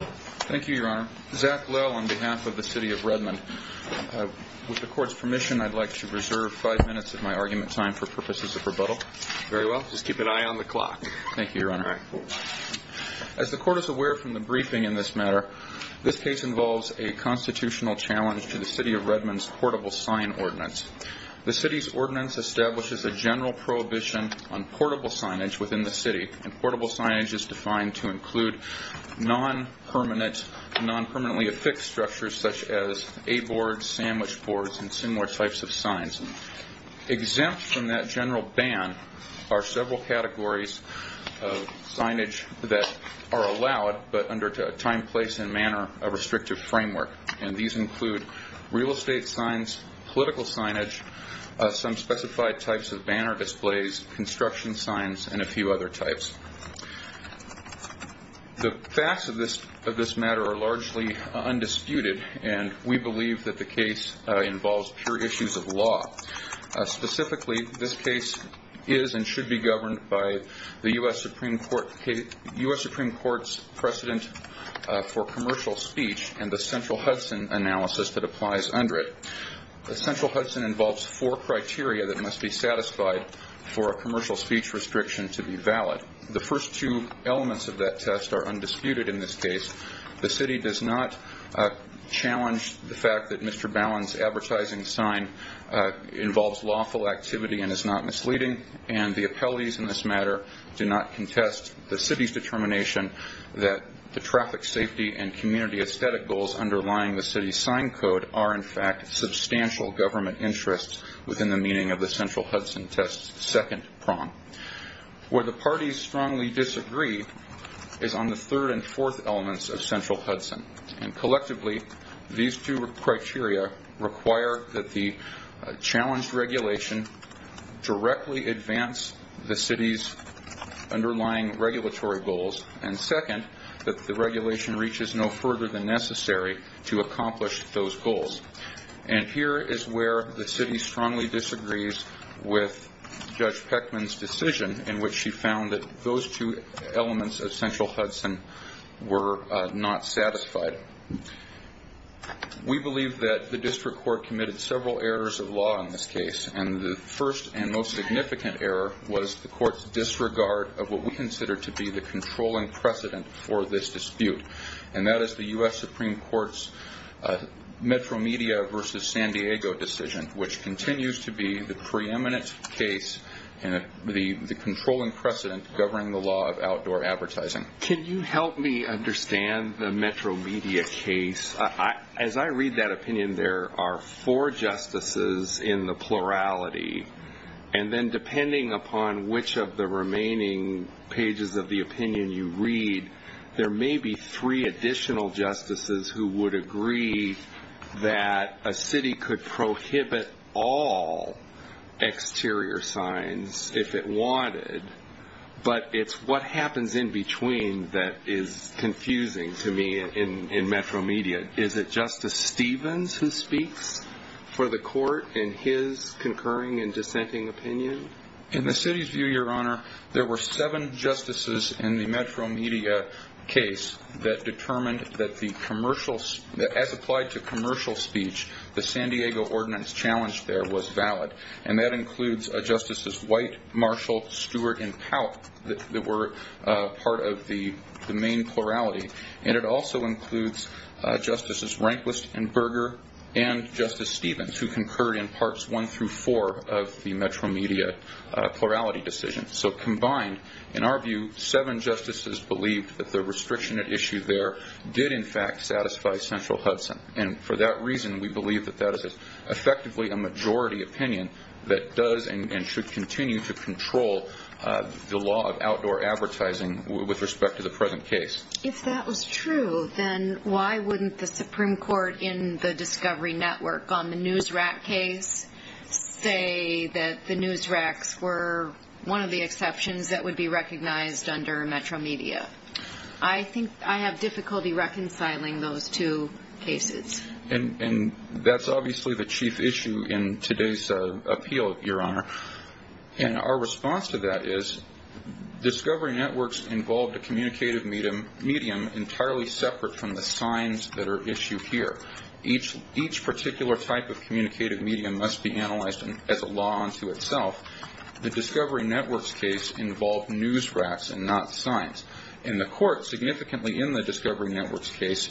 Thank you, Your Honor. Zach Lill on behalf of the City of Redmond. With the Court's permission, I'd like to reserve five minutes of my argument time for purposes of rebuttal. Very well. Just keep an eye on the clock. Thank you, Your Honor. As the Court is aware from the briefing in this matter, this case involves a constitutional challenge to the City of Redmond's portable sign ordinance. The City's ordinance establishes a general prohibition on portable signage within the city. Portable signage is defined to include non-permanently affixed structures such as A-boards, sandwich boards, and similar types of signs. Exempt from that general ban are several categories of signage that are allowed but under a time, place, and manner of restrictive framework. These include real estate signs, political signage, some specified types of banner displays, construction signs, and a few other types. The facts of this matter are largely undisputed and we believe that the case involves pure issues of law. Specifically, this case is and should be governed by the U.S. Supreme Court's precedent for commercial speech and the Central Hudson analysis that applies under it. The Central Hudson involves four criteria that must be satisfied for a commercial speech restriction to be valid. The first two elements of that test are undisputed in this case. The City does not challenge the fact that Mr. Ballin's advertising sign involves lawful activity and is not misleading. The appellees in this matter do not contest the City's determination that the traffic safety and community aesthetic goals underlying the City's sign code are in fact substantial government interests within the meaning of the Central Hudson test's second prong. Where the parties strongly disagree is on the third and fourth elements of Central Hudson. Collectively, these two criteria require that the challenged regulation directly advance the City's underlying regulatory goals and second, that the regulation reaches no further than necessary to accomplish those goals. And here is where the City strongly disagrees with Judge Peckman's decision in which she found that those two elements of Central Hudson were not satisfied. We believe that the District Court committed several errors of law in this case and the first and most significant error was the Court's disregard of what we consider to be the controlling precedent for this dispute and that is the U.S. Supreme Court's Metro Media v. San Diego decision, which continues to be the preeminent case in the controlling precedent governing the law of outdoor advertising. Can you help me understand the Metro Media case? As I read that opinion, there are four justices in the plurality and then depending upon which of the remaining pages of the opinion you read, there may be three additional justices who would agree that a city could prohibit all exterior signs if it wanted, but it's what happens in between that is confusing to me in Metro Media. Is it Justice Stevens who speaks for the Court in his concurring and dissenting opinion? In the City's view, Your Honor, there were seven justices in the Metro Media case that determined that as applied to commercial speech, the San Diego ordinance challenged there was valid and that includes Justices White, Marshall, Stewart, and Pout that were part of the main plurality and it also includes Justices Rehnquist and Berger and Justice Stevens who concurred in parts one through four of the Metro Media plurality decision. So combined, in our view, seven justices believed that the restriction at issue there did in fact satisfy central Hudson and for that reason we believe that that is effectively a majority opinion that does and should continue to control the law of outdoor advertising with respect to the present case. If that was true, then why wouldn't the Supreme Court in the Discovery Network on the NewsRack case say that the NewsRacks were one of the exceptions that would be recognized under Metro Media? I think I have difficulty reconciling those two cases. And that's obviously the chief issue in today's appeal, Your Honor, and our response to that is Discovery Networks involved a communicative medium entirely separate from the signs that are issued here. Each particular type of communicative medium must be analyzed as a law unto itself. The Discovery Networks case involved NewsRacks and not signs and the court significantly in the Discovery Networks case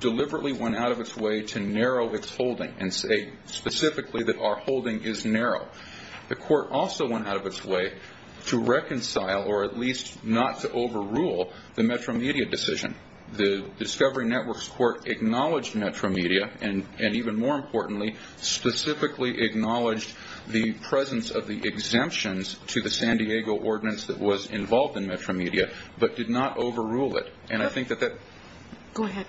deliberately went out of its way to narrow its holding and say specifically that our holding is narrow. The court also went out of its way to reconcile or at least not to overrule the Metro Media decision. The Discovery Networks court acknowledged Metro Media and even more importantly specifically acknowledged the presence of the exemptions to the San Diego ordinance that was involved in Metro Media but did not overrule it. Go ahead.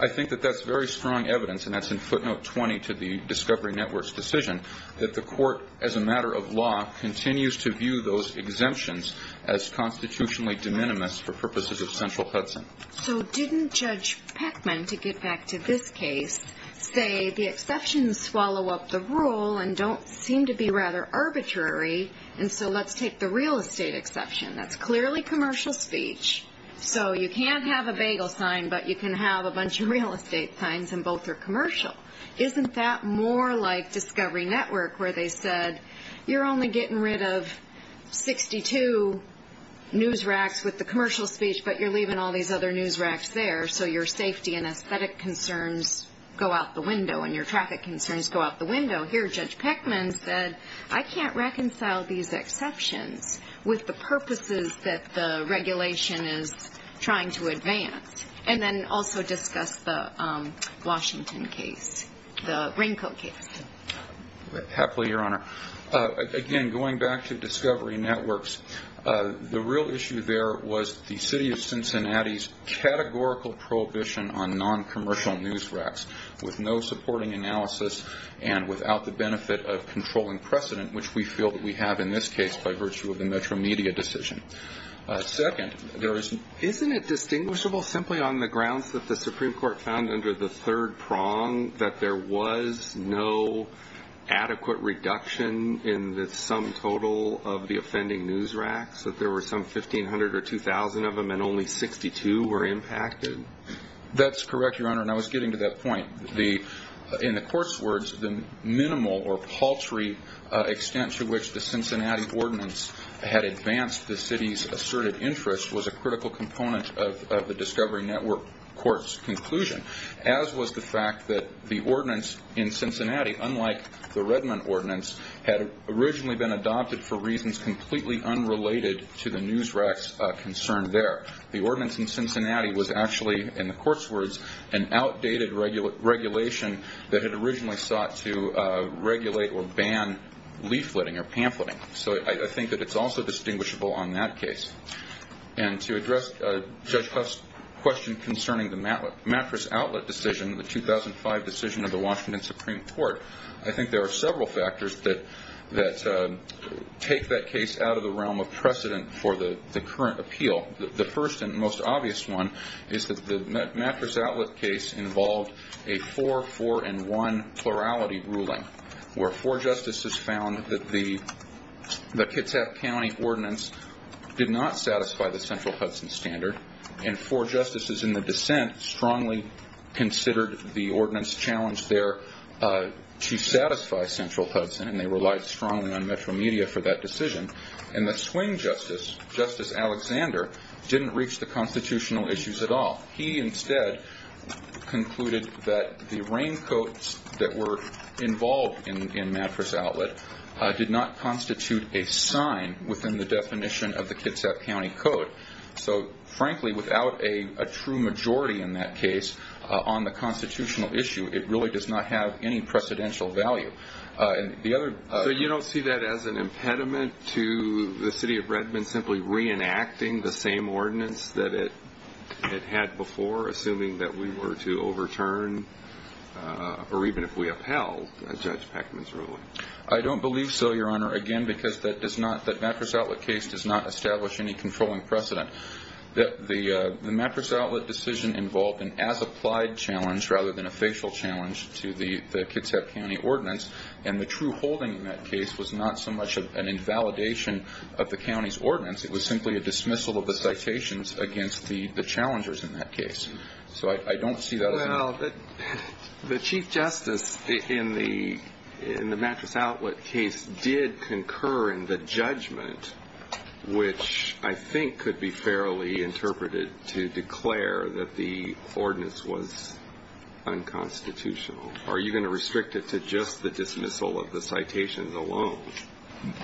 I think that that's very strong evidence and that's in footnote 20 to the Discovery Networks decision that the court as a matter of law continues to view those exemptions as constitutionally de minimis for purposes of central Hudson. So didn't Judge Peckman, to get back to this case, say the exceptions swallow up the rule and don't seem to be rather arbitrary and so let's take the real estate exception. That's clearly commercial speech so you can't have a bagel sign but you can have a bunch of real estate signs and both are commercial. Isn't that more like Discovery Network where they said you're only getting rid of 62 NewsRacks with the commercial speech but you're leaving all these other NewsRacks there so your safety and aesthetic concerns go out the window and your traffic concerns go out the window. Here Judge Peckman said I can't reconcile these exceptions with the purposes that the regulation is trying to advance and then also discuss the Washington case, the Raincoat case. Happily, Your Honor. Again, going back to Discovery Networks, the real issue there was the city of Cincinnati's categorical prohibition on non-commercial NewsRacks with no supporting analysis and without the benefit of controlling precedent which we feel that we have in this case by virtue of the Metro Media decision. Second, isn't it distinguishable simply on the grounds that the Supreme Court found under the third prong that there was no adequate reduction in the sum total of the offending NewsRacks, that there were some 1,500 or 2,000 of them and only 62 were impacted? That's correct, Your Honor, and I was getting to that point. In the court's words, the minimal or paltry extent to which the Cincinnati ordinance had advanced the city's asserted interest was a critical component of the Discovery Network court's conclusion as was the fact that the ordinance in Cincinnati, unlike the Redmond ordinance, had originally been adopted for reasons completely unrelated to the NewsRacks concern there. The ordinance in Cincinnati was actually, in the court's words, an outdated regulation that had originally sought to regulate or ban leafleting or pamphleting. So I think that it's also distinguishable on that case. And to address Judge Huff's question concerning the mattress outlet decision, the 2005 decision of the Washington Supreme Court, I think there are several factors that take that case out of the realm of precedent for the current appeal. The first and most obvious one is that the mattress outlet case involved a 4-4-1 plurality ruling where four justices found that the Kitsap County ordinance did not satisfy the central Hudson standard and four justices in the dissent strongly considered the ordinance challenge there to satisfy central Hudson and they relied strongly on Metro Media for that decision. And the swing justice, Justice Alexander, didn't reach the constitutional issues at all. He instead concluded that the raincoats that were involved in mattress outlet did not constitute a sign within the definition of the Kitsap County Code. So frankly, without a true majority in that case on the constitutional issue, it really does not have any precedential value. So you don't see that as an impediment to the city of Redmond simply reenacting the same ordinance that it had before, assuming that we were to overturn or even if we upheld Judge Peckman's ruling? I don't believe so, Your Honor, again, because that mattress outlet case does not establish any controlling precedent. The mattress outlet decision involved an as-applied challenge rather than a facial challenge to the Kitsap County ordinance, and the true holding in that case was not so much an invalidation of the county's ordinance. It was simply a dismissal of the citations against the challengers in that case. So I don't see that as an impediment. Well, the chief justice in the mattress outlet case did concur in the judgment, which I think could be fairly interpreted to declare that the ordinance was unconstitutional. Are you going to restrict it to just the dismissal of the citations alone?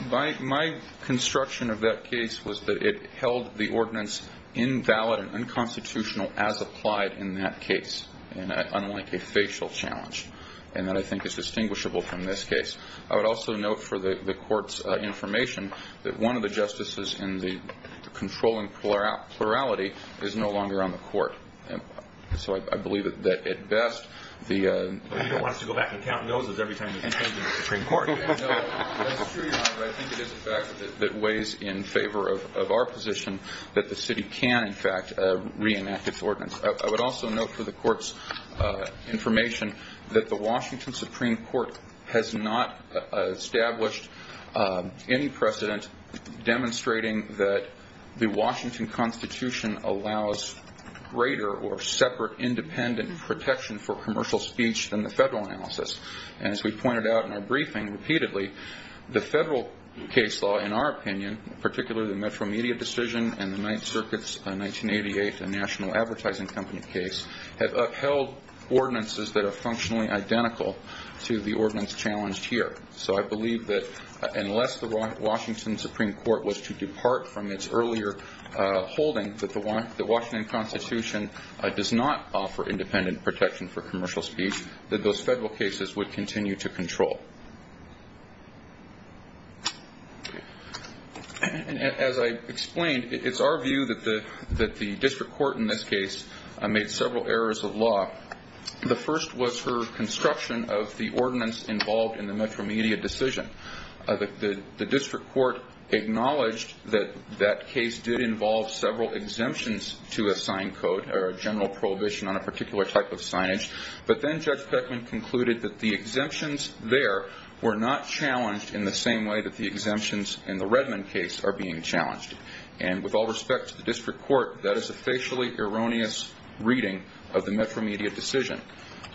My construction of that case was that it held the ordinance invalid and unconstitutional as applied in that case, unlike a facial challenge, and that I think is distinguishable from this case. I would also note for the court's information that one of the justices in the controlling plurality is no longer on the court. So I believe that at best the – But he doesn't want us to go back and count doses every time he changes the Supreme Court. No, that's true, Your Honor, but I think it is a fact that weighs in favor of our position that the city can, in fact, reenact its ordinance. I would also note for the court's information that the Washington Supreme Court has not established any precedent demonstrating that the Washington Constitution allows greater or separate independent protection for commercial speech than the federal analysis. And as we pointed out in our briefing repeatedly, the federal case law, in our opinion, particularly the Metro Media decision and the Ninth Circuit's 1988 National Advertising Company case have upheld ordinances that are functionally identical to the ordinance challenged here. So I believe that unless the Washington Supreme Court was to depart from its earlier holding that the Washington Constitution does not offer independent protection for commercial speech, that those federal cases would continue to control. And as I explained, it's our view that the district court in this case made several errors of law. The first was her construction of the ordinance involved in the Metro Media decision. The district court acknowledged that that case did involve several exemptions to a sign code or a general prohibition on a particular type of signage. But then Judge Beckman concluded that the exemptions there were not challenged in the same way that the exemptions in the Redmond case are being challenged. And with all respect to the district court, that is a facially erroneous reading of the Metro Media decision.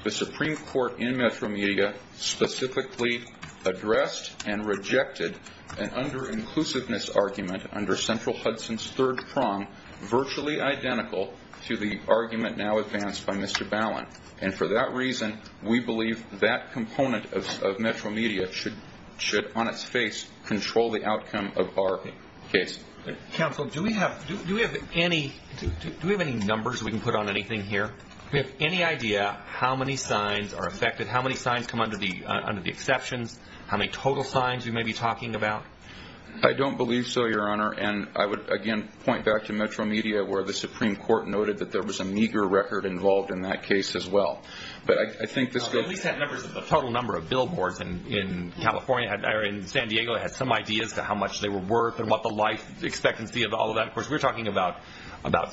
The Supreme Court in Metro Media specifically addressed and rejected an under-inclusiveness argument under central Hudson's third prong, virtually identical to the argument now advanced by Mr. Ballin. And for that reason, we believe that component of Metro Media should on its face control the outcome of our case. Counsel, do we have any numbers we can put on anything here? Do we have any idea how many signs are affected, how many signs come under the exceptions, how many total signs you may be talking about? I don't believe so, Your Honor, and I would, again, point back to Metro Media where the Supreme Court noted that there was a meager record involved in that case as well. But I think this could... At least that number is the total number of billboards in California, or in San Diego, has some ideas to how much they were worth and what the life expectancy of all of that. Of course, we're talking about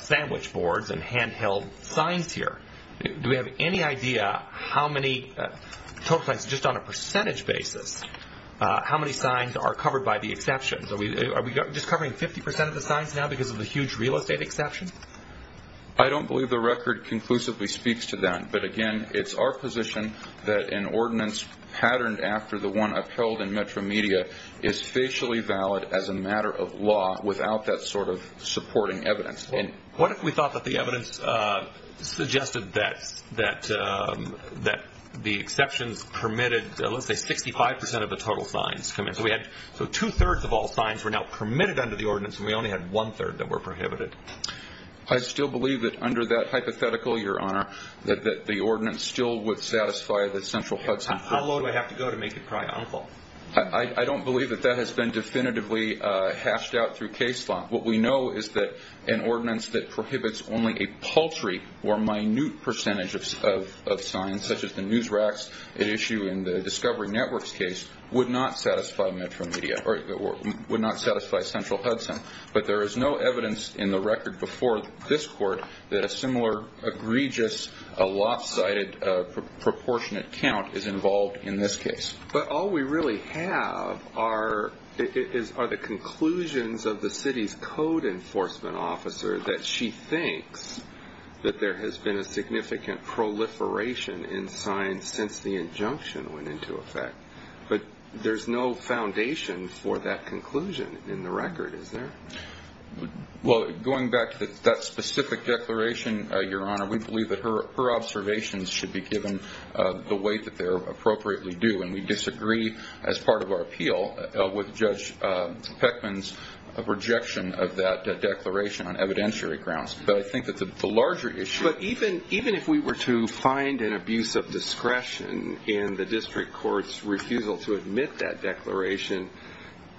sandwich boards and handheld signs here. Do we have any idea how many total signs, just on a percentage basis, how many signs are covered by the exceptions? Are we just covering 50% of the signs now because of the huge real estate exception? I don't believe the record conclusively speaks to that. But, again, it's our position that an ordinance patterned after the one upheld in Metro Media is facially valid as a matter of law without that sort of supporting evidence. What if we thought that the evidence suggested that the exceptions permitted, let's say, 65% of the total signs? So two-thirds of all signs were now permitted under the ordinance and we only had one-third that were prohibited. I still believe that under that hypothetical, Your Honor, that the ordinance still would satisfy the central Hudson... How low do I have to go to make it probably unlawful? I don't believe that that has been definitively hashed out through case law. What we know is that an ordinance that prohibits only a paltry or minute percentage of signs, such as the news racks at issue in the Discovery Network's case, would not satisfy Central Hudson. But there is no evidence in the record before this Court that a similar egregious, lopsided, proportionate count is involved in this case. But all we really have are the conclusions of the city's code enforcement officer that she thinks that there has been a significant proliferation in signs since the injunction went into effect. But there's no foundation for that conclusion in the record, is there? Well, going back to that specific declaration, Your Honor, we believe that her observations should be given the weight that they appropriately do, and we disagree as part of our appeal with Judge Peckman's projection of that declaration on evidentiary grounds. But I think that the larger issue... But even if we were to find an abuse of discretion in the district court's refusal to admit that declaration,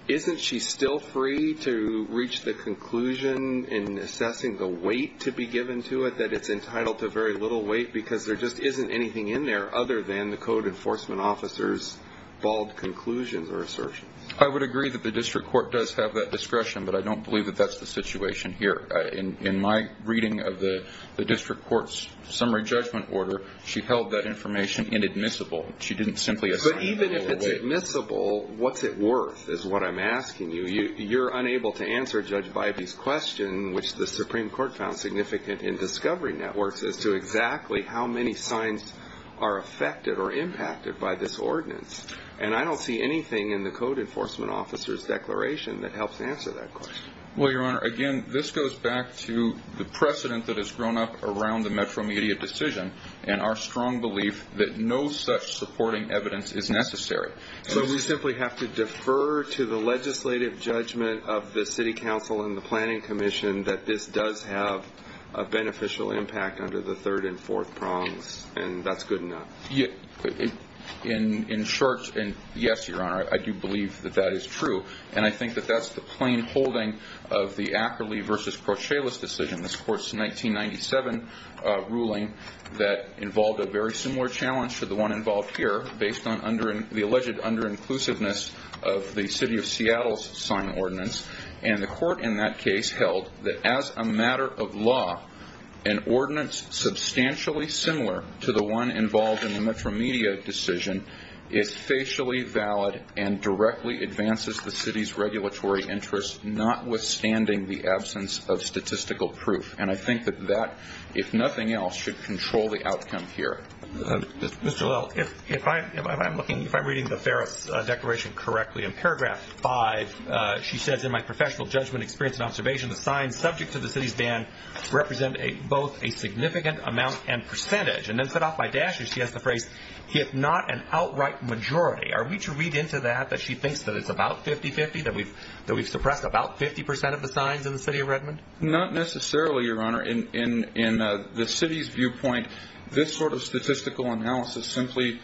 isn't she still free to reach the conclusion in assessing the weight to be given to it and say that it's entitled to very little weight because there just isn't anything in there other than the code enforcement officer's bald conclusions or assertions? I would agree that the district court does have that discretion, but I don't believe that that's the situation here. In my reading of the district court's summary judgment order, she held that information inadmissible. She didn't simply assign a little weight. But even if it's admissible, what's it worth is what I'm asking you. You're unable to answer Judge Bybee's question, which the Supreme Court found significant in discovery networks, as to exactly how many signs are affected or impacted by this ordinance. And I don't see anything in the code enforcement officer's declaration that helps answer that question. Well, Your Honor, again, this goes back to the precedent that has grown up around the Metro Media decision and our strong belief that no such supporting evidence is necessary. So we simply have to defer to the legislative judgment of the city council and the planning commission that this does have a beneficial impact under the third and fourth prongs, and that's good enough. In short, yes, Your Honor, I do believe that that is true. And I think that that's the plain holding of the Ackerley v. Crocella's decision, this court's 1997 ruling that involved a very similar challenge to the one involved here based on the alleged under-inclusiveness of the city of Seattle's sign ordinance. And the court in that case held that as a matter of law, an ordinance substantially similar to the one involved in the Metro Media decision is facially valid and directly advances the city's regulatory interests, notwithstanding the absence of statistical proof. And I think that that, if nothing else, should control the outcome here. Mr. Lowell, if I'm looking, if I'm reading the Ferris Declaration correctly, in paragraph 5, she says, in my professional judgment, experience, and observation, the signs subject to the city's ban represent both a significant amount and percentage. And then set off by dashes, she has the phrase, if not an outright majority. Are we to read into that that she thinks that it's about 50-50, that we've suppressed about 50 percent of the signs in the city of Redmond? Not necessarily, Your Honor. In the city's viewpoint, this sort of statistical analysis simply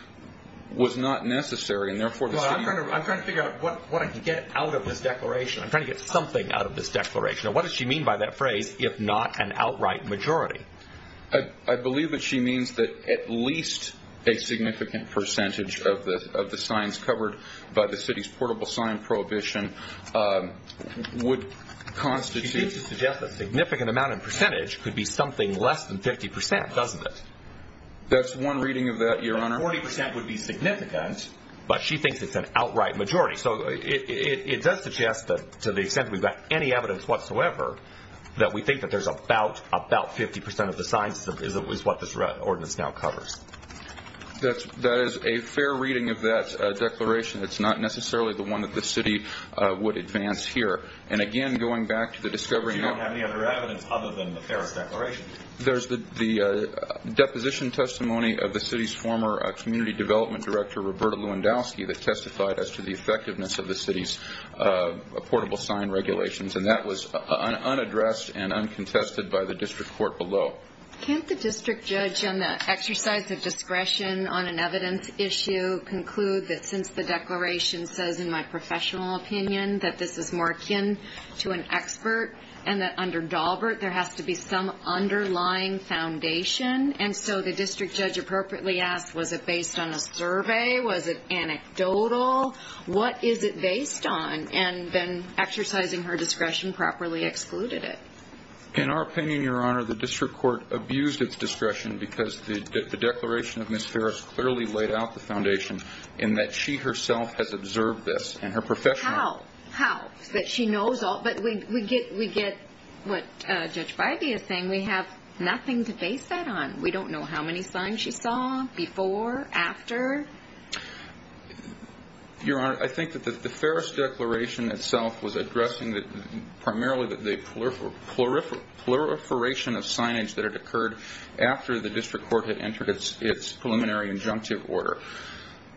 was not necessary. I'm trying to figure out what I can get out of this declaration. I'm trying to get something out of this declaration. What does she mean by that phrase, if not an outright majority? I believe that she means that at least a significant percentage of the signs covered by the city's portable sign prohibition would constitute She seems to suggest that significant amount and percentage could be something less than 50 percent, doesn't it? That's one reading of that, Your Honor. 40 percent would be significant. But she thinks it's an outright majority. So it does suggest that to the extent that we've got any evidence whatsoever, that we think that there's about 50 percent of the signs is what this ordinance now covers. That is a fair reading of that declaration. It's not necessarily the one that the city would advance here. And again, going back to the discovery of So you don't have any other evidence other than the Ferris Declaration? There's the deposition testimony of the city's former community development director, Roberta Lewandowski, that testified as to the effectiveness of the city's portable sign regulations, and that was unaddressed and uncontested by the district court below. Can't the district judge, on the exercise of discretion on an evidence issue, conclude that since the declaration says in my professional opinion that this is more akin to an expert and that under Daubert there has to be some underlying foundation, and so the district judge appropriately asked, was it based on a survey? Was it anecdotal? What is it based on? And then exercising her discretion, properly excluded it. In our opinion, Your Honor, the district court abused its discretion because the declaration of Ms. Ferris clearly laid out the foundation in that she herself has observed this and her professional How? How? That she knows all? But we get what Judge Bidey is saying. We have nothing to base that on. We don't know how many signs she saw before, after. Your Honor, I think that the Ferris Declaration itself was addressing primarily the proliferation of signage that had occurred after the district court had entered its preliminary injunctive order.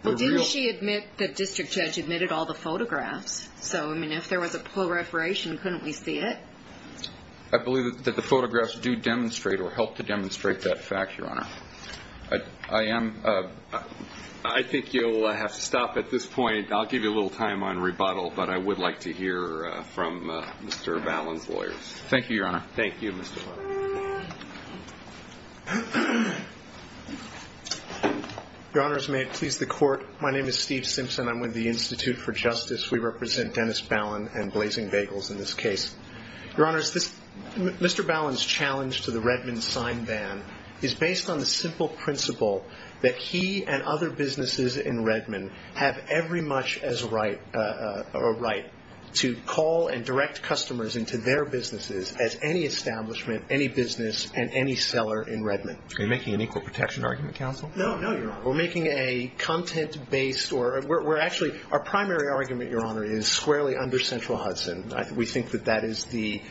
Well, didn't she admit that the district judge admitted all the photographs? So, I mean, if there was a proliferation, couldn't we see it? I believe that the photographs do demonstrate or help to demonstrate that fact, Your Honor. I think you'll have to stop at this point. I'll give you a little time on rebuttal, but I would like to hear from Mr. Ballin's lawyers. Thank you, Your Honor. Thank you, Mr. Ballin. Your Honors, may it please the Court. My name is Steve Simpson. I'm with the Institute for Justice. We represent Dennis Ballin and Blazing Bagels in this case. Your Honors, Mr. Ballin's challenge to the Redmond sign ban is based on the simple principle that he and other businesses in Redmond have every much as a right to call and direct customers into their businesses as any establishment, any business, and any seller in Redmond. Are you making an equal protection argument, counsel? No, no, Your Honor. We're making a content-based, or we're actually, our primary argument, Your Honor, is squarely under central Hudson. We think that that is the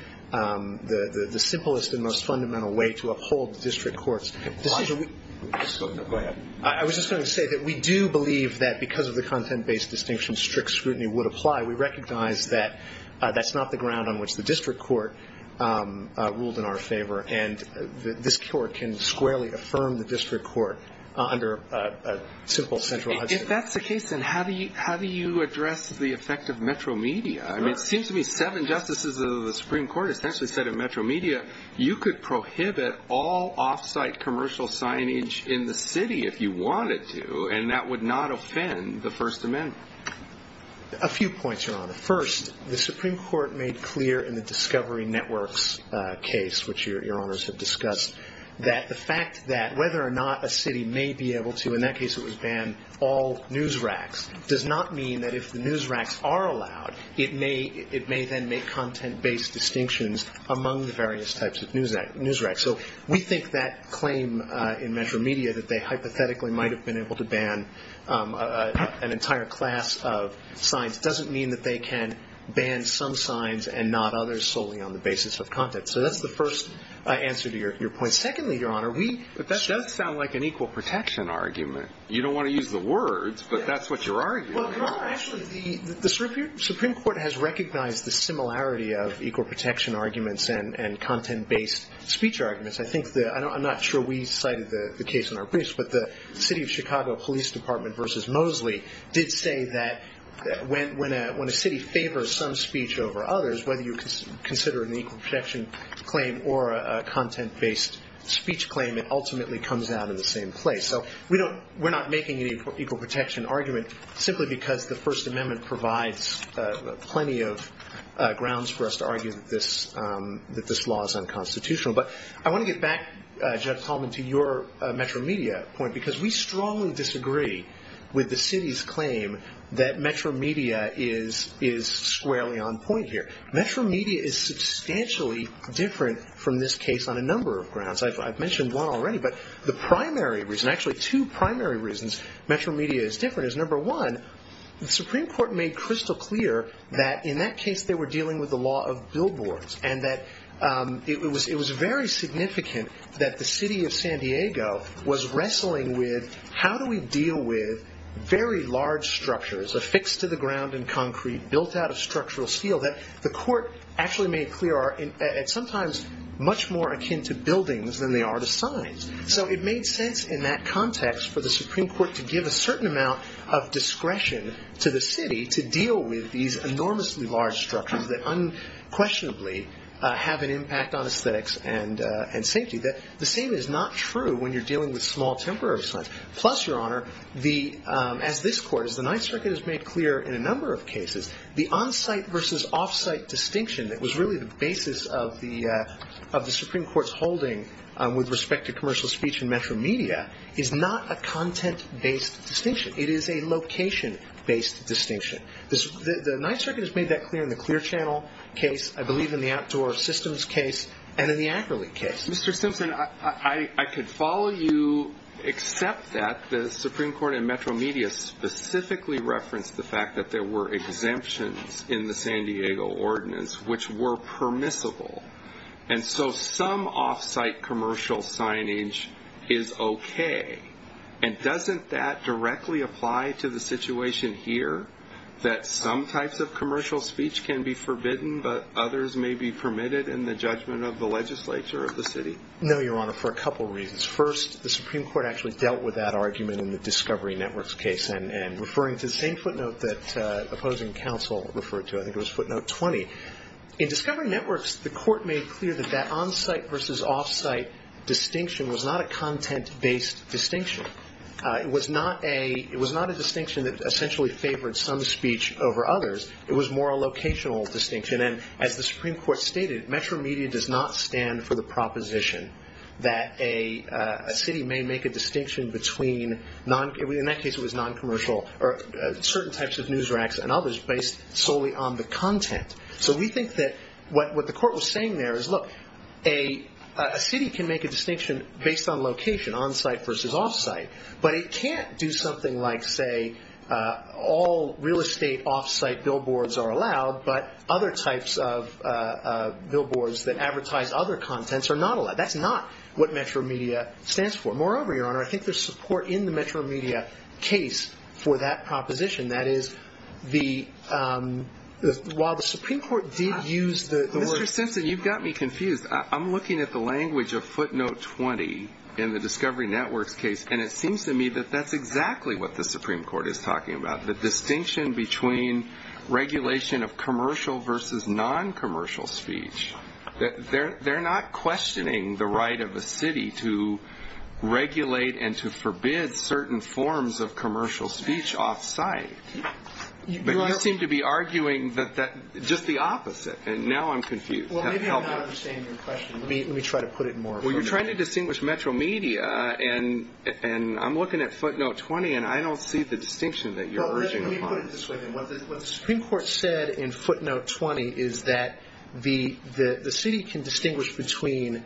simplest and most fundamental way to uphold district courts. Go ahead. I was just going to say that we do believe that because of the content-based distinction, strict scrutiny would apply. We recognize that that's not the ground on which the district court ruled in our favor, and this court can squarely affirm the district court under a simple central Hudson. If that's the case, then how do you address the effect of metro media? I mean, it seems to me seven justices of the Supreme Court essentially said in metro media, you could prohibit all off-site commercial signage in the city if you wanted to, and that would not offend the First Amendment. A few points, Your Honor. First, the Supreme Court made clear in the Discovery Networks case, which Your Honors have discussed, that the fact that whether or not a city may be able to, in that case it was banned, all news racks, does not mean that if the news racks are allowed, it may then make content-based distinctions among the various types of news racks. So we think that claim in metro media that they hypothetically might have been able to ban an entire class of signs doesn't mean that they can ban some signs and not others solely on the basis of content. So that's the first answer to your point. Secondly, Your Honor, we – But that does sound like an equal protection argument. You don't want to use the words, but that's what you're arguing. Well, Your Honor, actually, the Supreme Court has recognized the similarity of equal protection arguments and content-based speech arguments. I think the – I'm not sure we cited the case in our briefs, but the City of Chicago Police Department v. Mosley did say that when a city favors some speech over others, whether you consider an equal protection claim or a content-based speech claim, it ultimately comes out in the same place. So we don't – we're not making an equal protection argument simply because the First Amendment provides plenty of grounds for us to argue that this law is unconstitutional. But I want to get back, Judge Tallman, to your metro media point, because we strongly disagree with the city's claim that metro media is squarely on point here. Metro media is substantially different from this case on a number of grounds. I've mentioned one already, but the primary reason – actually, two primary reasons metro media is different is, number one, the Supreme Court made crystal clear that in that case they were dealing with the law of billboards and that it was very significant that the city of San Diego was wrestling with how do we deal with very large structures affixed to the ground and concrete, built out of structural steel, that the court actually made clear are – it's sometimes much more akin to buildings than they are to signs. So it made sense in that context for the Supreme Court to give a certain amount of discretion to the city to deal with these enormously large structures that unquestionably have an impact on aesthetics and safety. The same is not true when you're dealing with small temporary signs. Plus, Your Honor, as this Court, as the Ninth Circuit has made clear in a number of cases, the on-site versus off-site distinction that was really the basis of the Supreme Court's holding with respect to commercial speech in metro media is not a content-based distinction. It is a location-based distinction. The Ninth Circuit has made that clear in the Clear Channel case, I believe in the Outdoor Systems case, and in the Ackerley case. Mr. Simpson, I could follow you except that the Supreme Court in metro media specifically referenced the fact that there were exemptions in the San Diego Ordinance which were permissible. And so some off-site commercial signage is okay. And doesn't that directly apply to the situation here, that some types of commercial speech can be forbidden, but others may be permitted in the judgment of the legislature of the city? No, Your Honor, for a couple reasons. First, the Supreme Court actually dealt with that argument in the Discovery Networks case, and referring to the same footnote that opposing counsel referred to, I think it was footnote 20. In Discovery Networks, the Court made clear that that on-site versus off-site distinction was not a content-based distinction. It was not a distinction that essentially favored some speech over others. It was more a locational distinction. And as the Supreme Court stated, metro media does not stand for the proposition that a city may make a distinction between, in that case it was non-commercial, certain types of news racks and others based solely on the content. So we think that what the Court was saying there is, look, a city can make a distinction based on location, on-site versus off-site. But it can't do something like, say, all real estate off-site billboards are allowed, but other types of billboards that advertise other contents are not allowed. That's not what metro media stands for. Moreover, Your Honor, I think there's support in the metro media case for that proposition. That is, while the Supreme Court did use the word – Mr. Simpson, you've got me confused. I'm looking at the language of footnote 20 in the Discovery Networks case, and it seems to me that that's exactly what the Supreme Court is talking about, the distinction between regulation of commercial versus non-commercial speech. They're not questioning the right of a city to regulate and to forbid certain forms of commercial speech off-site. But you seem to be arguing just the opposite, and now I'm confused. Well, maybe I'm not understanding your question. Let me try to put it more clearly. You're trying to distinguish metro media, and I'm looking at footnote 20, and I don't see the distinction that you're urging upon. Let me put it this way, then. What the Supreme Court said in footnote 20 is that the city can distinguish between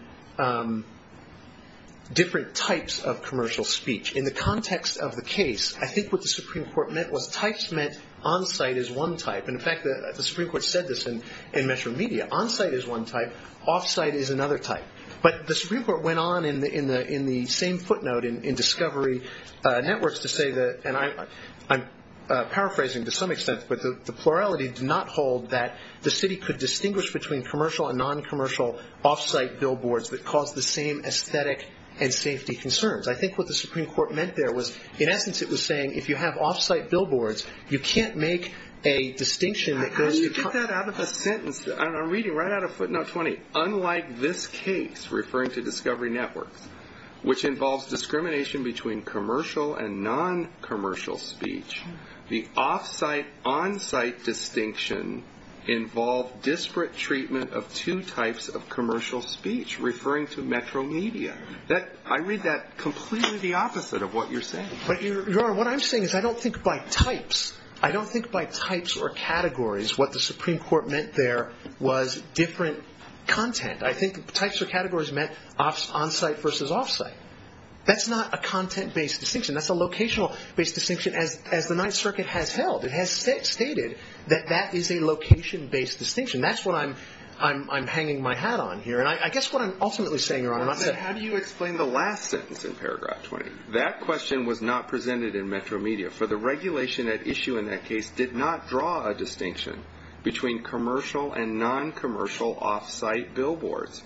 different types of commercial speech. In the context of the case, I think what the Supreme Court meant was types meant on-site is one type. In fact, the Supreme Court said this in metro media. On-site is one type. Off-site is another type. But the Supreme Court went on in the same footnote in Discovery Networks to say that, and I'm paraphrasing to some extent, but the plurality did not hold that the city could distinguish between commercial and non-commercial off-site billboards that caused the same aesthetic and safety concerns. I think what the Supreme Court meant there was, in essence, it was saying if you have off-site billboards, you can't make a distinction. How do you get that out of a sentence? I'm reading right out of footnote 20. Unlike this case, referring to Discovery Networks, which involves discrimination between commercial and non-commercial speech, the off-site-on-site distinction involved disparate treatment of two types of commercial speech, referring to metro media. I read that completely the opposite of what you're saying. Your Honor, what I'm saying is I don't think by types, I don't think by types or categories, what the Supreme Court meant there was different content. I think types or categories meant on-site versus off-site. That's not a content-based distinction. That's a locational-based distinction, as the Ninth Circuit has held. It has stated that that is a location-based distinction. That's what I'm hanging my hat on here, and I guess what I'm ultimately saying, Your Honor, is how do you explain the last sentence in paragraph 20? That question was not presented in metro media, for the regulation at issue in that case did not draw a distinction between commercial and non-commercial off-site billboards,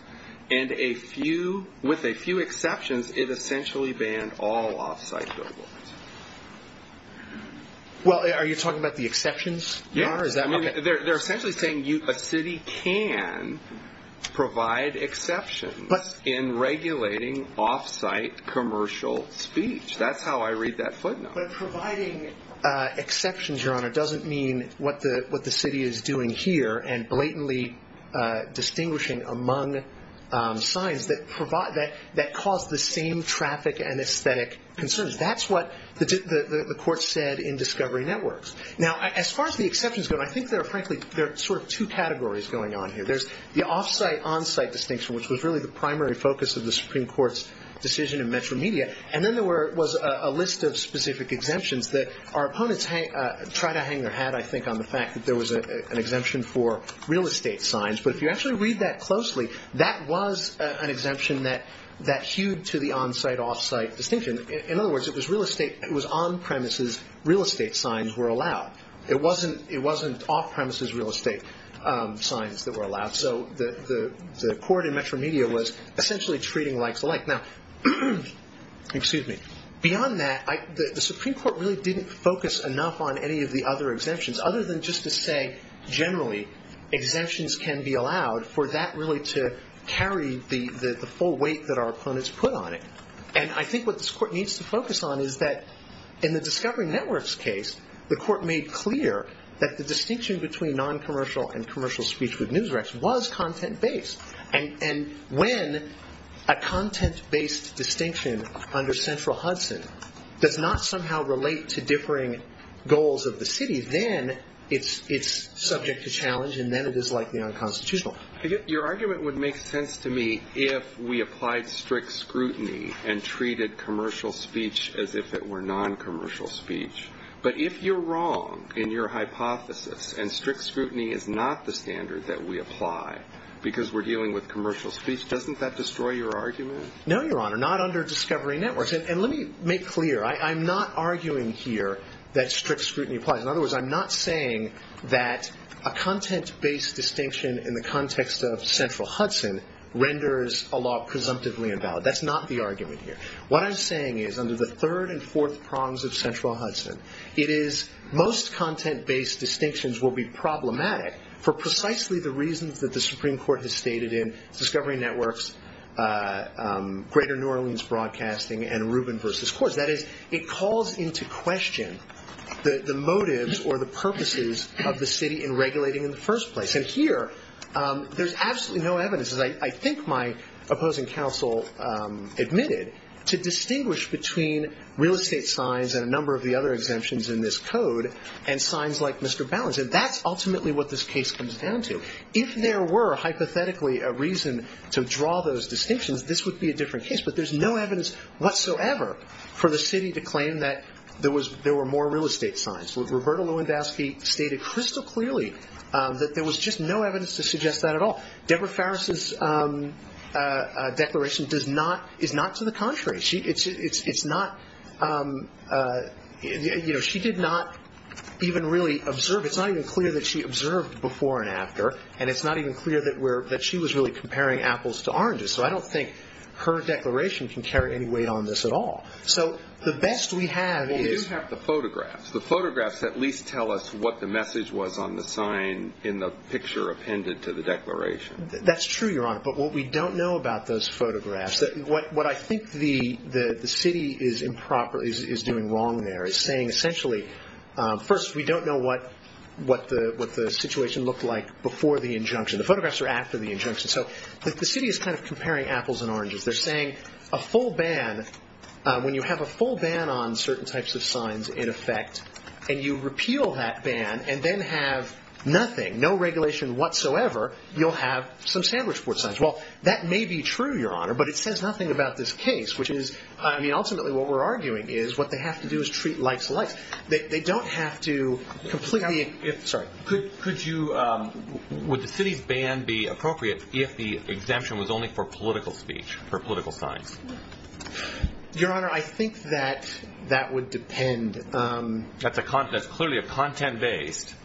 and with a few exceptions, it essentially banned all off-site billboards. Are you talking about the exceptions, Your Honor? They're essentially saying a city can provide exceptions in regulating off-site commercial speech. That's how I read that footnote. But providing exceptions, Your Honor, doesn't mean what the city is doing here and blatantly distinguishing among signs that cause the same traffic and aesthetic concerns. That's what the court said in Discovery Networks. Now, as far as the exceptions go, I think there are frankly two categories going on here. There's the off-site-on-site distinction, which was really the primary focus of the Supreme Court's decision in metro media, and then there was a list of specific exemptions that our opponents try to hang their hat, I think, on the fact that there was an exemption for real estate signs. But if you actually read that closely, that was an exemption that hewed to the on-site-off-site distinction. In other words, it was on-premises real estate signs were allowed. It wasn't off-premises real estate signs that were allowed. So the court in metro media was essentially treating like the like. Now, beyond that, the Supreme Court really didn't focus enough on any of the other exemptions, other than just to say, generally, exemptions can be allowed for that really to carry the full weight that our opponents put on it. And I think what this court needs to focus on is that in the Discovery Networks case, the court made clear that the distinction between noncommercial and commercial speech with Newsrex was content-based. And when a content-based distinction under central Hudson does not somehow relate to differing goals of the city, then it's subject to challenge, and then it is likely unconstitutional. Your argument would make sense to me if we applied strict scrutiny and treated commercial speech as if it were noncommercial speech. But if you're wrong in your hypothesis, and strict scrutiny is not the standard that we apply because we're dealing with commercial speech, doesn't that destroy your argument? No, Your Honor, not under Discovery Networks. And let me make clear, I'm not arguing here that strict scrutiny applies. In other words, I'm not saying that a content-based distinction in the context of central Hudson renders a law presumptively invalid. That's not the argument here. What I'm saying is, under the third and fourth prongs of central Hudson, it is most content-based distinctions will be problematic for precisely the reasons that the Supreme Court has stated in Discovery Networks, Greater New Orleans Broadcasting, and Rubin v. Coors. That is, it calls into question the motives or the purposes of the city in regulating in the first place. And here, there's absolutely no evidence, as I think my opposing counsel admitted, to distinguish between real estate signs and a number of the other exemptions in this code, and signs like Mr. Balance. And that's ultimately what this case comes down to. If there were, hypothetically, a reason to draw those distinctions, this would be a different case. But there's no evidence whatsoever for the city to claim that there were more real estate signs. Roberta Lewandowski stated crystal clearly that there was just no evidence to suggest that at all. Deborah Farris's declaration is not to the contrary. She did not even really observe. It's not even clear that she observed before and after. And it's not even clear that she was really comparing apples to oranges. So I don't think her declaration can carry any weight on this at all. So the best we have is- Well, we do have the photographs. The photographs at least tell us what the message was on the sign in the picture appended to the declaration. That's true, Your Honor. But what we don't know about those photographs, what I think the city is doing wrong there, is saying essentially, first, we don't know what the situation looked like before the injunction. The photographs are after the injunction. So the city is kind of comparing apples and oranges. They're saying a full ban, when you have a full ban on certain types of signs in effect, and you repeal that ban and then have nothing, no regulation whatsoever, you'll have some sandwich board signs. Well, that may be true, Your Honor, but it says nothing about this case, which is- I mean, ultimately what we're arguing is what they have to do is treat likes alike. They don't have to completely- Would the city's ban be appropriate if the exemption was only for political speech, for political signs? Your Honor, I think that that would depend- That's clearly a content-based,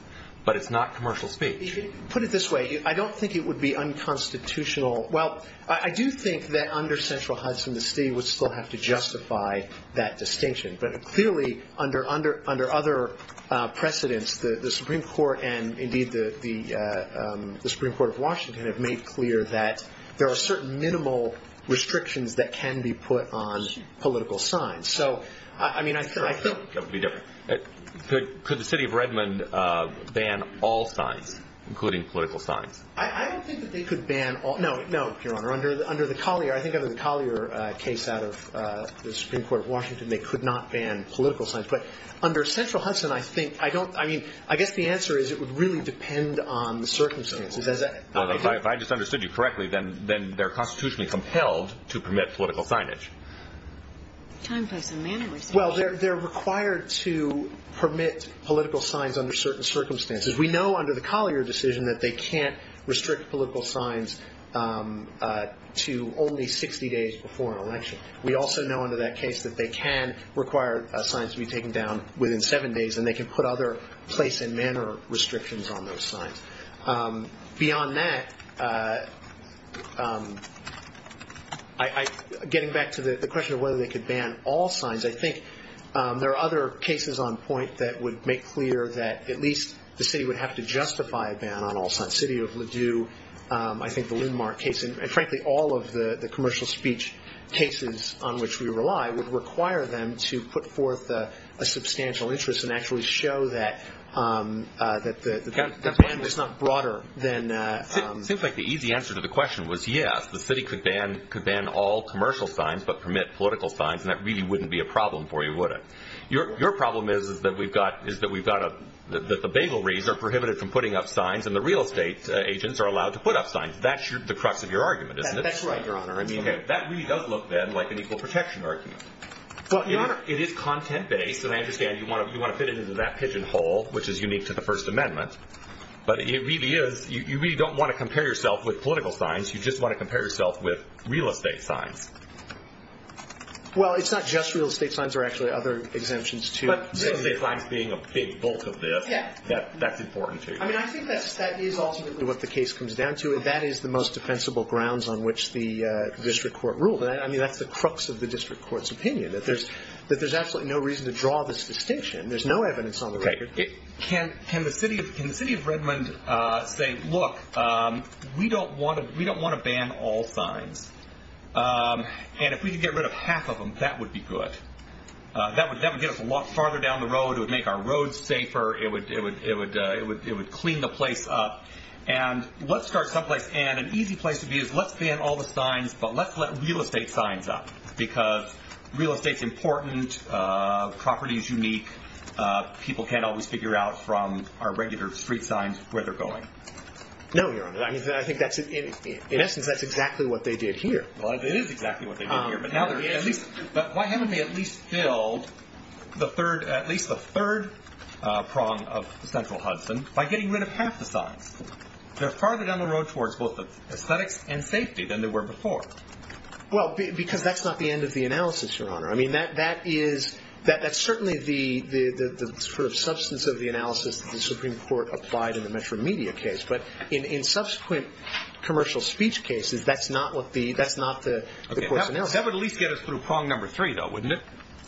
but it's not commercial speech. Put it this way. I don't think it would be unconstitutional. Well, I do think that under central Hudson, the city would still have to justify that distinction. But clearly, under other precedents, the Supreme Court and indeed the Supreme Court of Washington have made clear that there are certain minimal restrictions that can be put on political signs. So, I mean, I think- That would be different. Could the city of Redmond ban all signs, including political signs? I don't think that they could ban all- No, Your Honor, under the Collier, I think under the Collier case out of the Supreme Court of Washington, they could not ban political signs. But under central Hudson, I think, I don't- I mean, I guess the answer is it would really depend on the circumstances. Well, if I just understood you correctly, then they're constitutionally compelled to permit political signage. Time, place, and manner restrictions. Well, they're required to permit political signs under certain circumstances. We know under the Collier decision that they can't restrict political signs to only 60 days before an election. We also know under that case that they can require signs to be taken down within seven days, and they can put other place and manner restrictions on those signs. Beyond that, getting back to the question of whether they could ban all signs, I think there are other cases on point that would make clear that at least the city would have to justify a ban on all signs. The city of Ledoux, I think the Lindmar case, and frankly all of the commercial speech cases on which we rely, would require them to put forth a substantial interest and actually show that the ban was not broader than- It seems like the easy answer to the question was yes, the city could ban all commercial signs but permit political signs, and that really wouldn't be a problem for you, would it? Your problem is that we've got a- that the bagleries are prohibited from putting up signs and the real estate agents are allowed to put up signs. That's the crux of your argument, isn't it? That's right, Your Honor. I mean, that really does look, then, like an equal protection argument. But, Your Honor- It is content-based, and I understand you want to fit it into that pigeonhole, which is unique to the First Amendment, but it really is- you really don't want to compare yourself with political signs. You just want to compare yourself with real estate signs. Well, it's not just real estate signs. There are actually other exemptions, too. But real estate signs being a big bulk of this, that's important to you. I mean, I think that is ultimately what the case comes down to, and that is the most defensible grounds on which the district court ruled. I mean, that's the crux of the district court's opinion, that there's absolutely no reason to draw this distinction. There's no evidence on the record. Can the city of Redmond say, look, we don't want to ban all signs, and if we could get rid of half of them, that would be good. That would get us a lot farther down the road. It would make our roads safer. It would clean the place up. And let's start someplace, and an easy place to be is let's ban all the signs, but let's let real estate signs up, because real estate's important, property's unique. People can't always figure out from our regular street signs where they're going. No, Your Honor. I think that's, in essence, that's exactly what they did here. Well, it is exactly what they did here. But why haven't they at least filled at least the third prong of Central Hudson by getting rid of half the signs? They're farther down the road towards both aesthetics and safety than they were before. Well, because that's not the end of the analysis, Your Honor. I mean, that is certainly the sort of substance of the analysis that the Supreme Court applied in the Metro Media case. But in subsequent commercial speech cases, that's not the course of analysis. That would at least get us through prong number three, though, wouldn't it?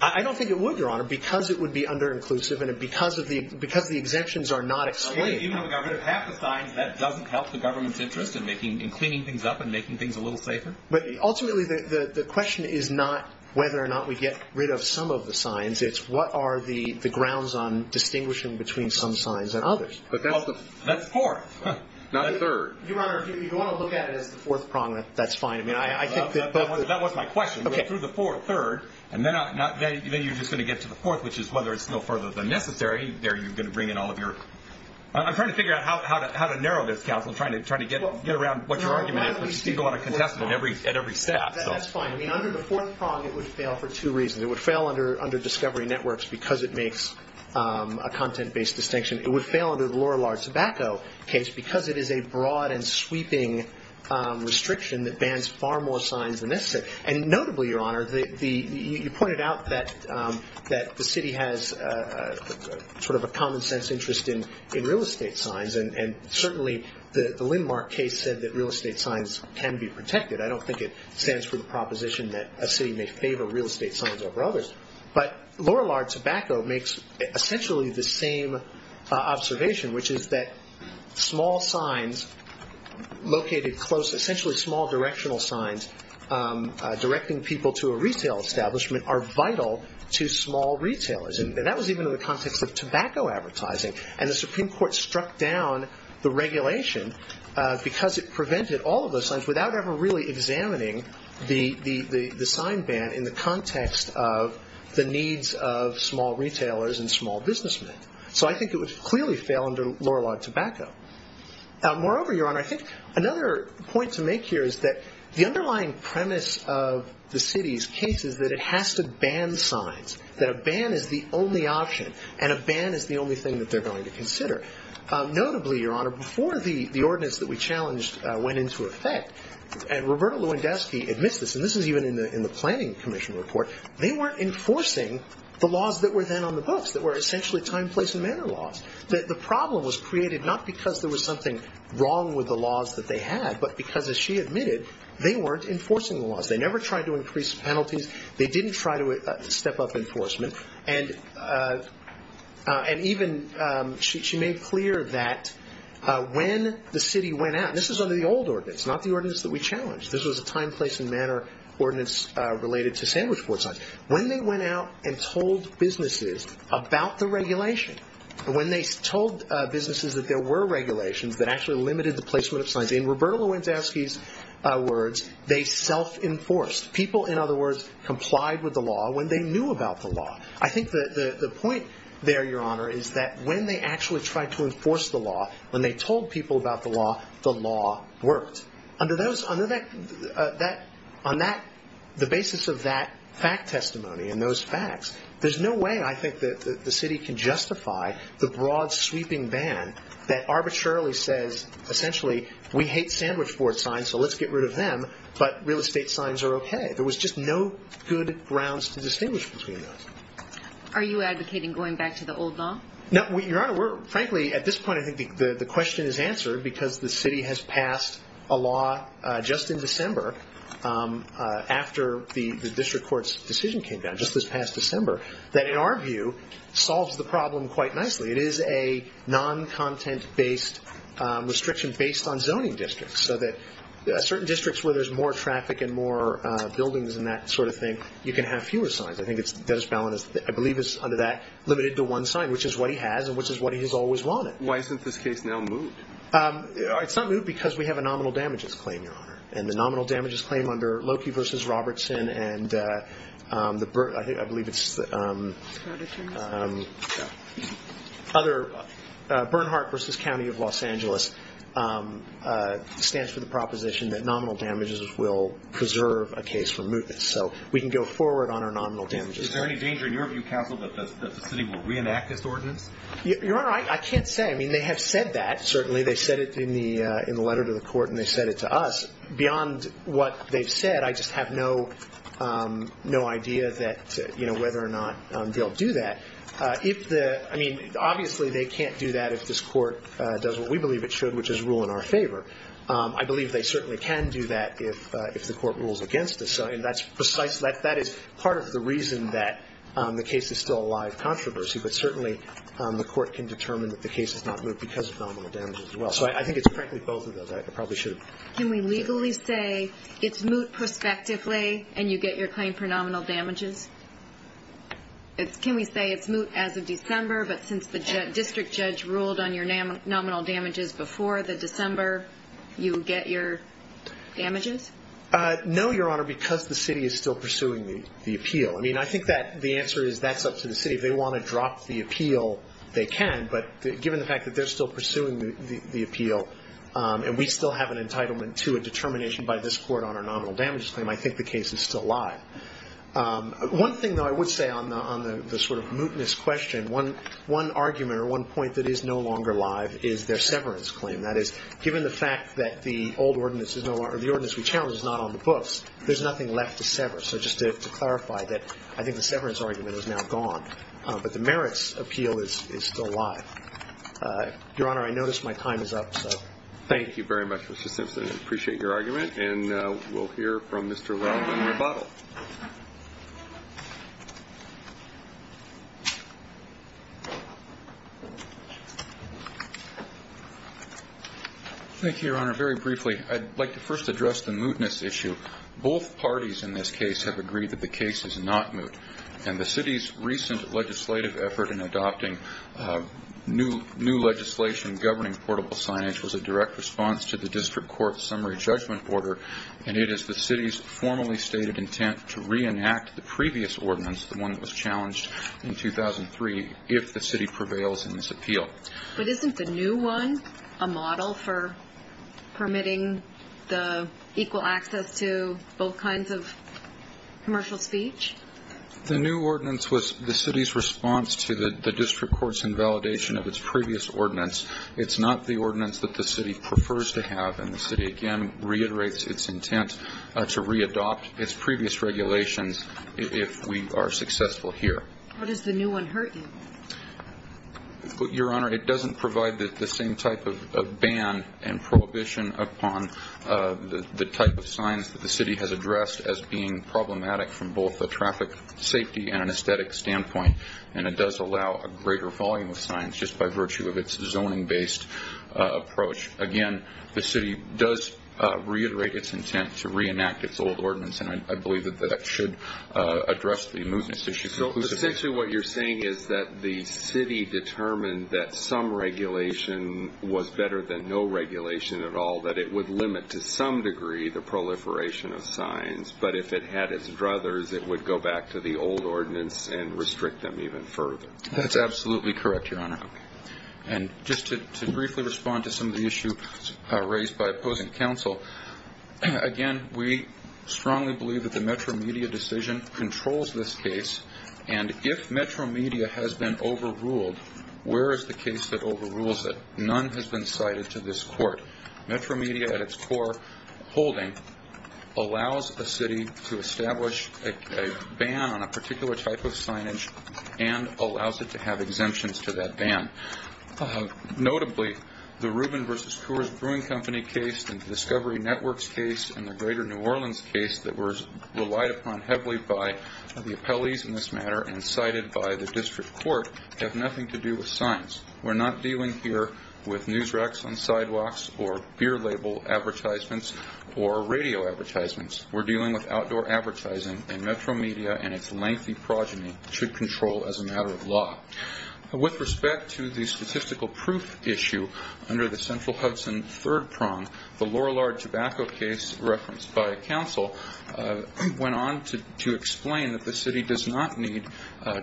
I don't think it would, Your Honor, because it would be under-inclusive and because the exemptions are not explained. Even if we got rid of half the signs, that doesn't help the government's interest in cleaning things up and making things a little safer? Ultimately, the question is not whether or not we get rid of some of the signs. It's what are the grounds on distinguishing between some signs and others. But that's fourth, not third. Your Honor, if you want to look at it as the fourth prong, that's fine. That wasn't my question. Through the fourth, third, and then you're just going to get to the fourth, which is whether it's still further than necessary. There you're going to bring in all of your – I'm trying to figure out how to narrow this, Counsel, trying to get around what your argument is. I'm trying to steeple out a contestant at every step. That's fine. I mean, under the fourth prong, it would fail for two reasons. It would fail under discovery networks because it makes a content-based distinction. It would fail under the lower large tobacco case because it is a broad and sweeping restriction that bans far more signs than necessary. And notably, Your Honor, you pointed out that the city has sort of a common-sense interest in real estate signs, and certainly the Lindmark case said that real estate signs can be protected. I don't think it stands for the proposition that a city may favor real estate signs over others. But lower large tobacco makes essentially the same observation, which is that small signs located close – essentially small directional signs directing people to a retail establishment are vital to small retailers. And that was even in the context of tobacco advertising. And the Supreme Court struck down the regulation because it prevented all of those signs without ever really examining the sign ban in the context of the needs of small retailers and small businessmen. So I think it would clearly fail under lower large tobacco. Moreover, Your Honor, I think another point to make here is that the underlying premise of the city's case is that it has to ban signs, that a ban is the only option, and a ban is the only thing that they're going to consider. Notably, Your Honor, before the ordinance that we challenged went into effect, and Roberta Lewandowski admits this, and this is even in the Planning Commission report, they weren't enforcing the laws that were then on the books, that were essentially time, place, and manner laws. The problem was created not because there was something wrong with the laws that they had, but because, as she admitted, they weren't enforcing the laws. They never tried to increase penalties. They didn't try to step up enforcement. And even she made clear that when the city went out, and this is under the old ordinance, not the ordinance that we challenged. This was a time, place, and manner ordinance related to sandwich board signs. When they went out and told businesses about the regulation, when they told businesses that there were regulations that actually limited the placement of signs, in Roberta Lewandowski's words, they self-enforced. People, in other words, complied with the law when they knew about the law. I think the point there, Your Honor, is that when they actually tried to enforce the law, when they told people about the law, the law worked. On the basis of that fact testimony and those facts, there's no way, I think, that the city can justify the broad sweeping ban that arbitrarily says, essentially, we hate sandwich board signs, so let's get rid of them, but real estate signs are okay. There was just no good grounds to distinguish between those. Are you advocating going back to the old law? No. Your Honor, frankly, at this point, I think the question is answered because the city has passed a law just in December after the district court's decision came down, just this past December, that, in our view, solves the problem quite nicely. It is a non-content-based restriction based on zoning districts, so that certain districts where there's more traffic and more buildings and that sort of thing, you can have fewer signs. I think Dennis Ballin, I believe, is, under that, limited to one sign, which is what he has and which is what he has always wanted. Why isn't this case now moved? And the nominal damages claim under Loki v. Robertson and I believe it's Bernhardt v. County of Los Angeles stands for the proposition that nominal damages will preserve a case for mootness. So we can go forward on our nominal damages. Is there any danger in your view, counsel, that the city will reenact this ordinance? Your Honor, I can't say. I mean, they have said that, certainly. They said it in the letter to the court and they said it to us. Beyond what they've said, I just have no idea that, you know, whether or not they'll do that. I mean, obviously they can't do that if this court does what we believe it should, which is rule in our favor. I believe they certainly can do that if the court rules against us, and that is part of the reason that the case is still a live controversy, but certainly the court can determine that the case is not moot because of nominal damages as well. So I think it's frankly both of those. I probably should. Can we legally say it's moot prospectively and you get your claim for nominal damages? Can we say it's moot as of December, but since the district judge ruled on your nominal damages before the December, you get your damages? No, Your Honor, because the city is still pursuing the appeal. I mean, I think the answer is that's up to the city. If they want to drop the appeal, they can, but given the fact that they're still pursuing the appeal and we still have an entitlement to a determination by this court on our nominal damages claim, I think the case is still live. One thing, though, I would say on the sort of mootness question, one argument or one point that is no longer live is their severance claim. That is, given the fact that the old ordinance is no longer the ordinance we challenged is not on the books, there's nothing left to sever. So just to clarify, I think the severance argument is now gone, but the merits appeal is still live. Your Honor, I notice my time is up. Thank you very much, Mr. Simpson. I appreciate your argument, and we'll hear from Mr. Raub in rebuttal. Thank you, Your Honor. Very briefly, I'd like to first address the mootness issue. Both parties in this case have agreed that the case is not moot, and the city's recent legislative effort in adopting new legislation governing portable signage was a direct response to the district court's summary judgment order, and it is the city's formally stated intent to reenact the previous ordinance, the one that was challenged in 2003, if the city prevails in this appeal. But isn't the new one a model for permitting the equal access to both kinds of commercial speech? The new ordinance was the city's response to the district court's invalidation of its previous ordinance. It's not the ordinance that the city prefers to have, and the city, again, reiterates its intent to readopt its previous regulations if we are successful here. How does the new one hurt you? Your Honor, it doesn't provide the same type of ban and prohibition upon the type of signs that the city has addressed as being problematic from both a traffic safety and an aesthetic standpoint, and it does allow a greater volume of signs just by virtue of its zoning-based approach. Again, the city does reiterate its intent to reenact its old ordinance, and I believe that that should address the mootness issue. So essentially what you're saying is that the city determined that some regulation was better than no regulation at all, that it would limit to some degree the proliferation of signs, but if it had its druthers, it would go back to the old ordinance and restrict them even further. That's absolutely correct, Your Honor. And just to briefly respond to some of the issues raised by opposing counsel, again, we strongly believe that the Metro Media decision controls this case, and if Metro Media has been overruled, where is the case that overrules it? None has been cited to this court. Metro Media at its core holding allows a city to establish a ban on a particular type of signage and allows it to have exemptions to that ban. Notably, the Rubin v. Coors Brewing Company case and the Discovery Networks case and the Greater New Orleans case that were relied upon heavily by the appellees in this matter and cited by the district court have nothing to do with signs. We're not dealing here with news racks on sidewalks or beer label advertisements or radio advertisements. We're dealing with outdoor advertising, and Metro Media and its lengthy progeny should control as a matter of law. With respect to the statistical proof issue under the Central Hudson third prong, the Lorillard tobacco case referenced by counsel went on to explain that the city does not need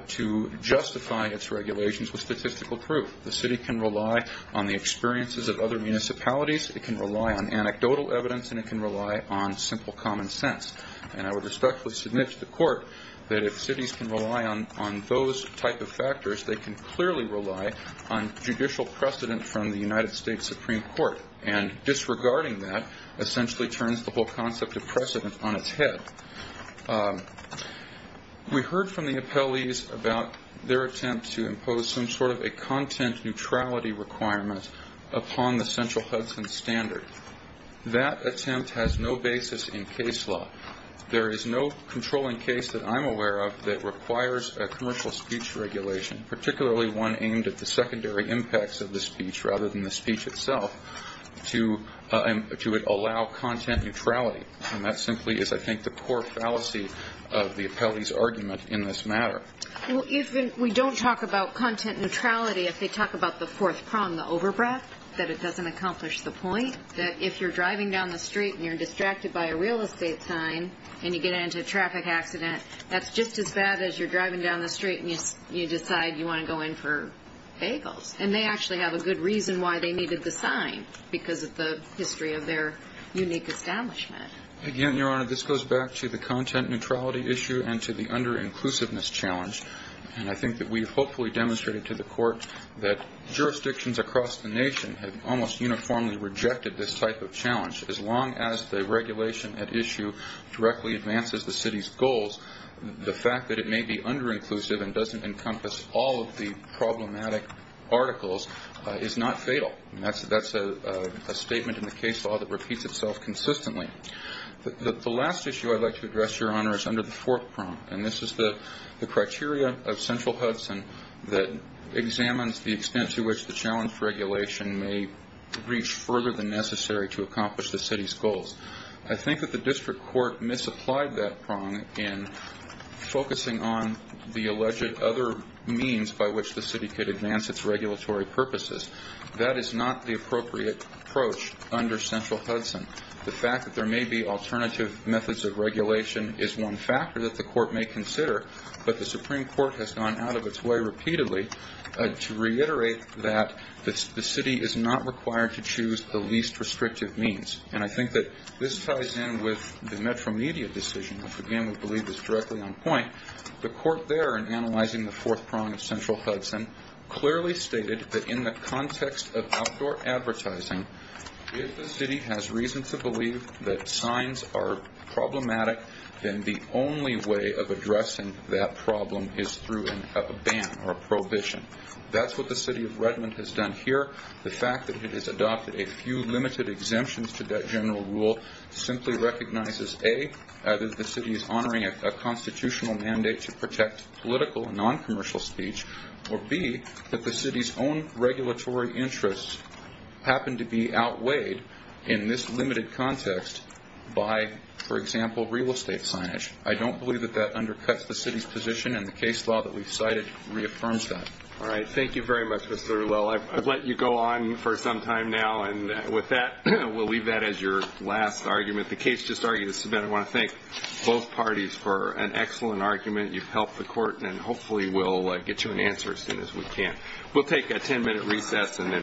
to justify its regulations with statistical proof. The city can rely on the experiences of other municipalities, it can rely on anecdotal evidence, and it can rely on simple common sense. And I would respectfully submit to the court that if cities can rely on those type of factors, they can clearly rely on judicial precedent from the United States Supreme Court. And disregarding that essentially turns the whole concept of precedent on its head. We heard from the appellees about their attempt to impose some sort of a content neutrality requirement upon the Central Hudson standard. That attempt has no basis in case law. There is no controlling case that I'm aware of that requires a commercial speech regulation, particularly one aimed at the secondary impacts of the speech rather than the speech itself, to allow content neutrality. And that simply is, I think, the core fallacy of the appellee's argument in this matter. Well, if we don't talk about content neutrality, if they talk about the fourth prong, the overbreadth, that it doesn't accomplish the point that if you're driving down the street and you're distracted by a real estate sign and you get into a traffic accident, that's just as bad as you're driving down the street and you decide you want to go in for bagels. And they actually have a good reason why they needed the sign, because of the history of their unique establishment. Again, Your Honor, this goes back to the content neutrality issue and to the under-inclusiveness challenge. And I think that we've hopefully demonstrated to the Court that jurisdictions across the nation have almost uniformly rejected this type of challenge. As long as the regulation at issue directly advances the city's goals, the fact that it may be under-inclusive and doesn't encompass all of the problematic articles is not fatal. That's a statement in the case law that repeats itself consistently. The last issue I'd like to address, Your Honor, is under the fourth prong, and this is the criteria of central Hudson that examines the extent to which the challenge regulation may reach further than necessary to accomplish the city's goals. I think that the district court misapplied that prong in focusing on the alleged other means by which the city could advance its regulatory purposes. That is not the appropriate approach under central Hudson. The fact that there may be alternative methods of regulation is one factor that the Court may consider, but the Supreme Court has gone out of its way repeatedly to reiterate that the city is not required to choose the least restrictive means. And I think that this ties in with the Metro Media decision, which, again, we believe is directly on point. The Court there, in analyzing the fourth prong of central Hudson, clearly stated that in the context of outdoor advertising, if the city has reason to believe that signs are problematic, then the only way of addressing that problem is through a ban or a prohibition. That's what the city of Redmond has done here. The fact that it has adopted a few limited exemptions to that general rule simply recognizes, A, that the city is honoring a constitutional mandate to protect political and noncommercial speech, or, B, that the city's own regulatory interests happen to be outweighed in this limited context by, for example, real estate signage. I don't believe that that undercuts the city's position, and the case law that we've cited reaffirms that. All right. Thank you very much, Mr. Rouleau. I've let you go on for some time now, and with that, we'll leave that as your last argument. The case just argued this event. I want to thank both parties for an excellent argument. You've helped the court, and hopefully we'll get you an answer as soon as we can.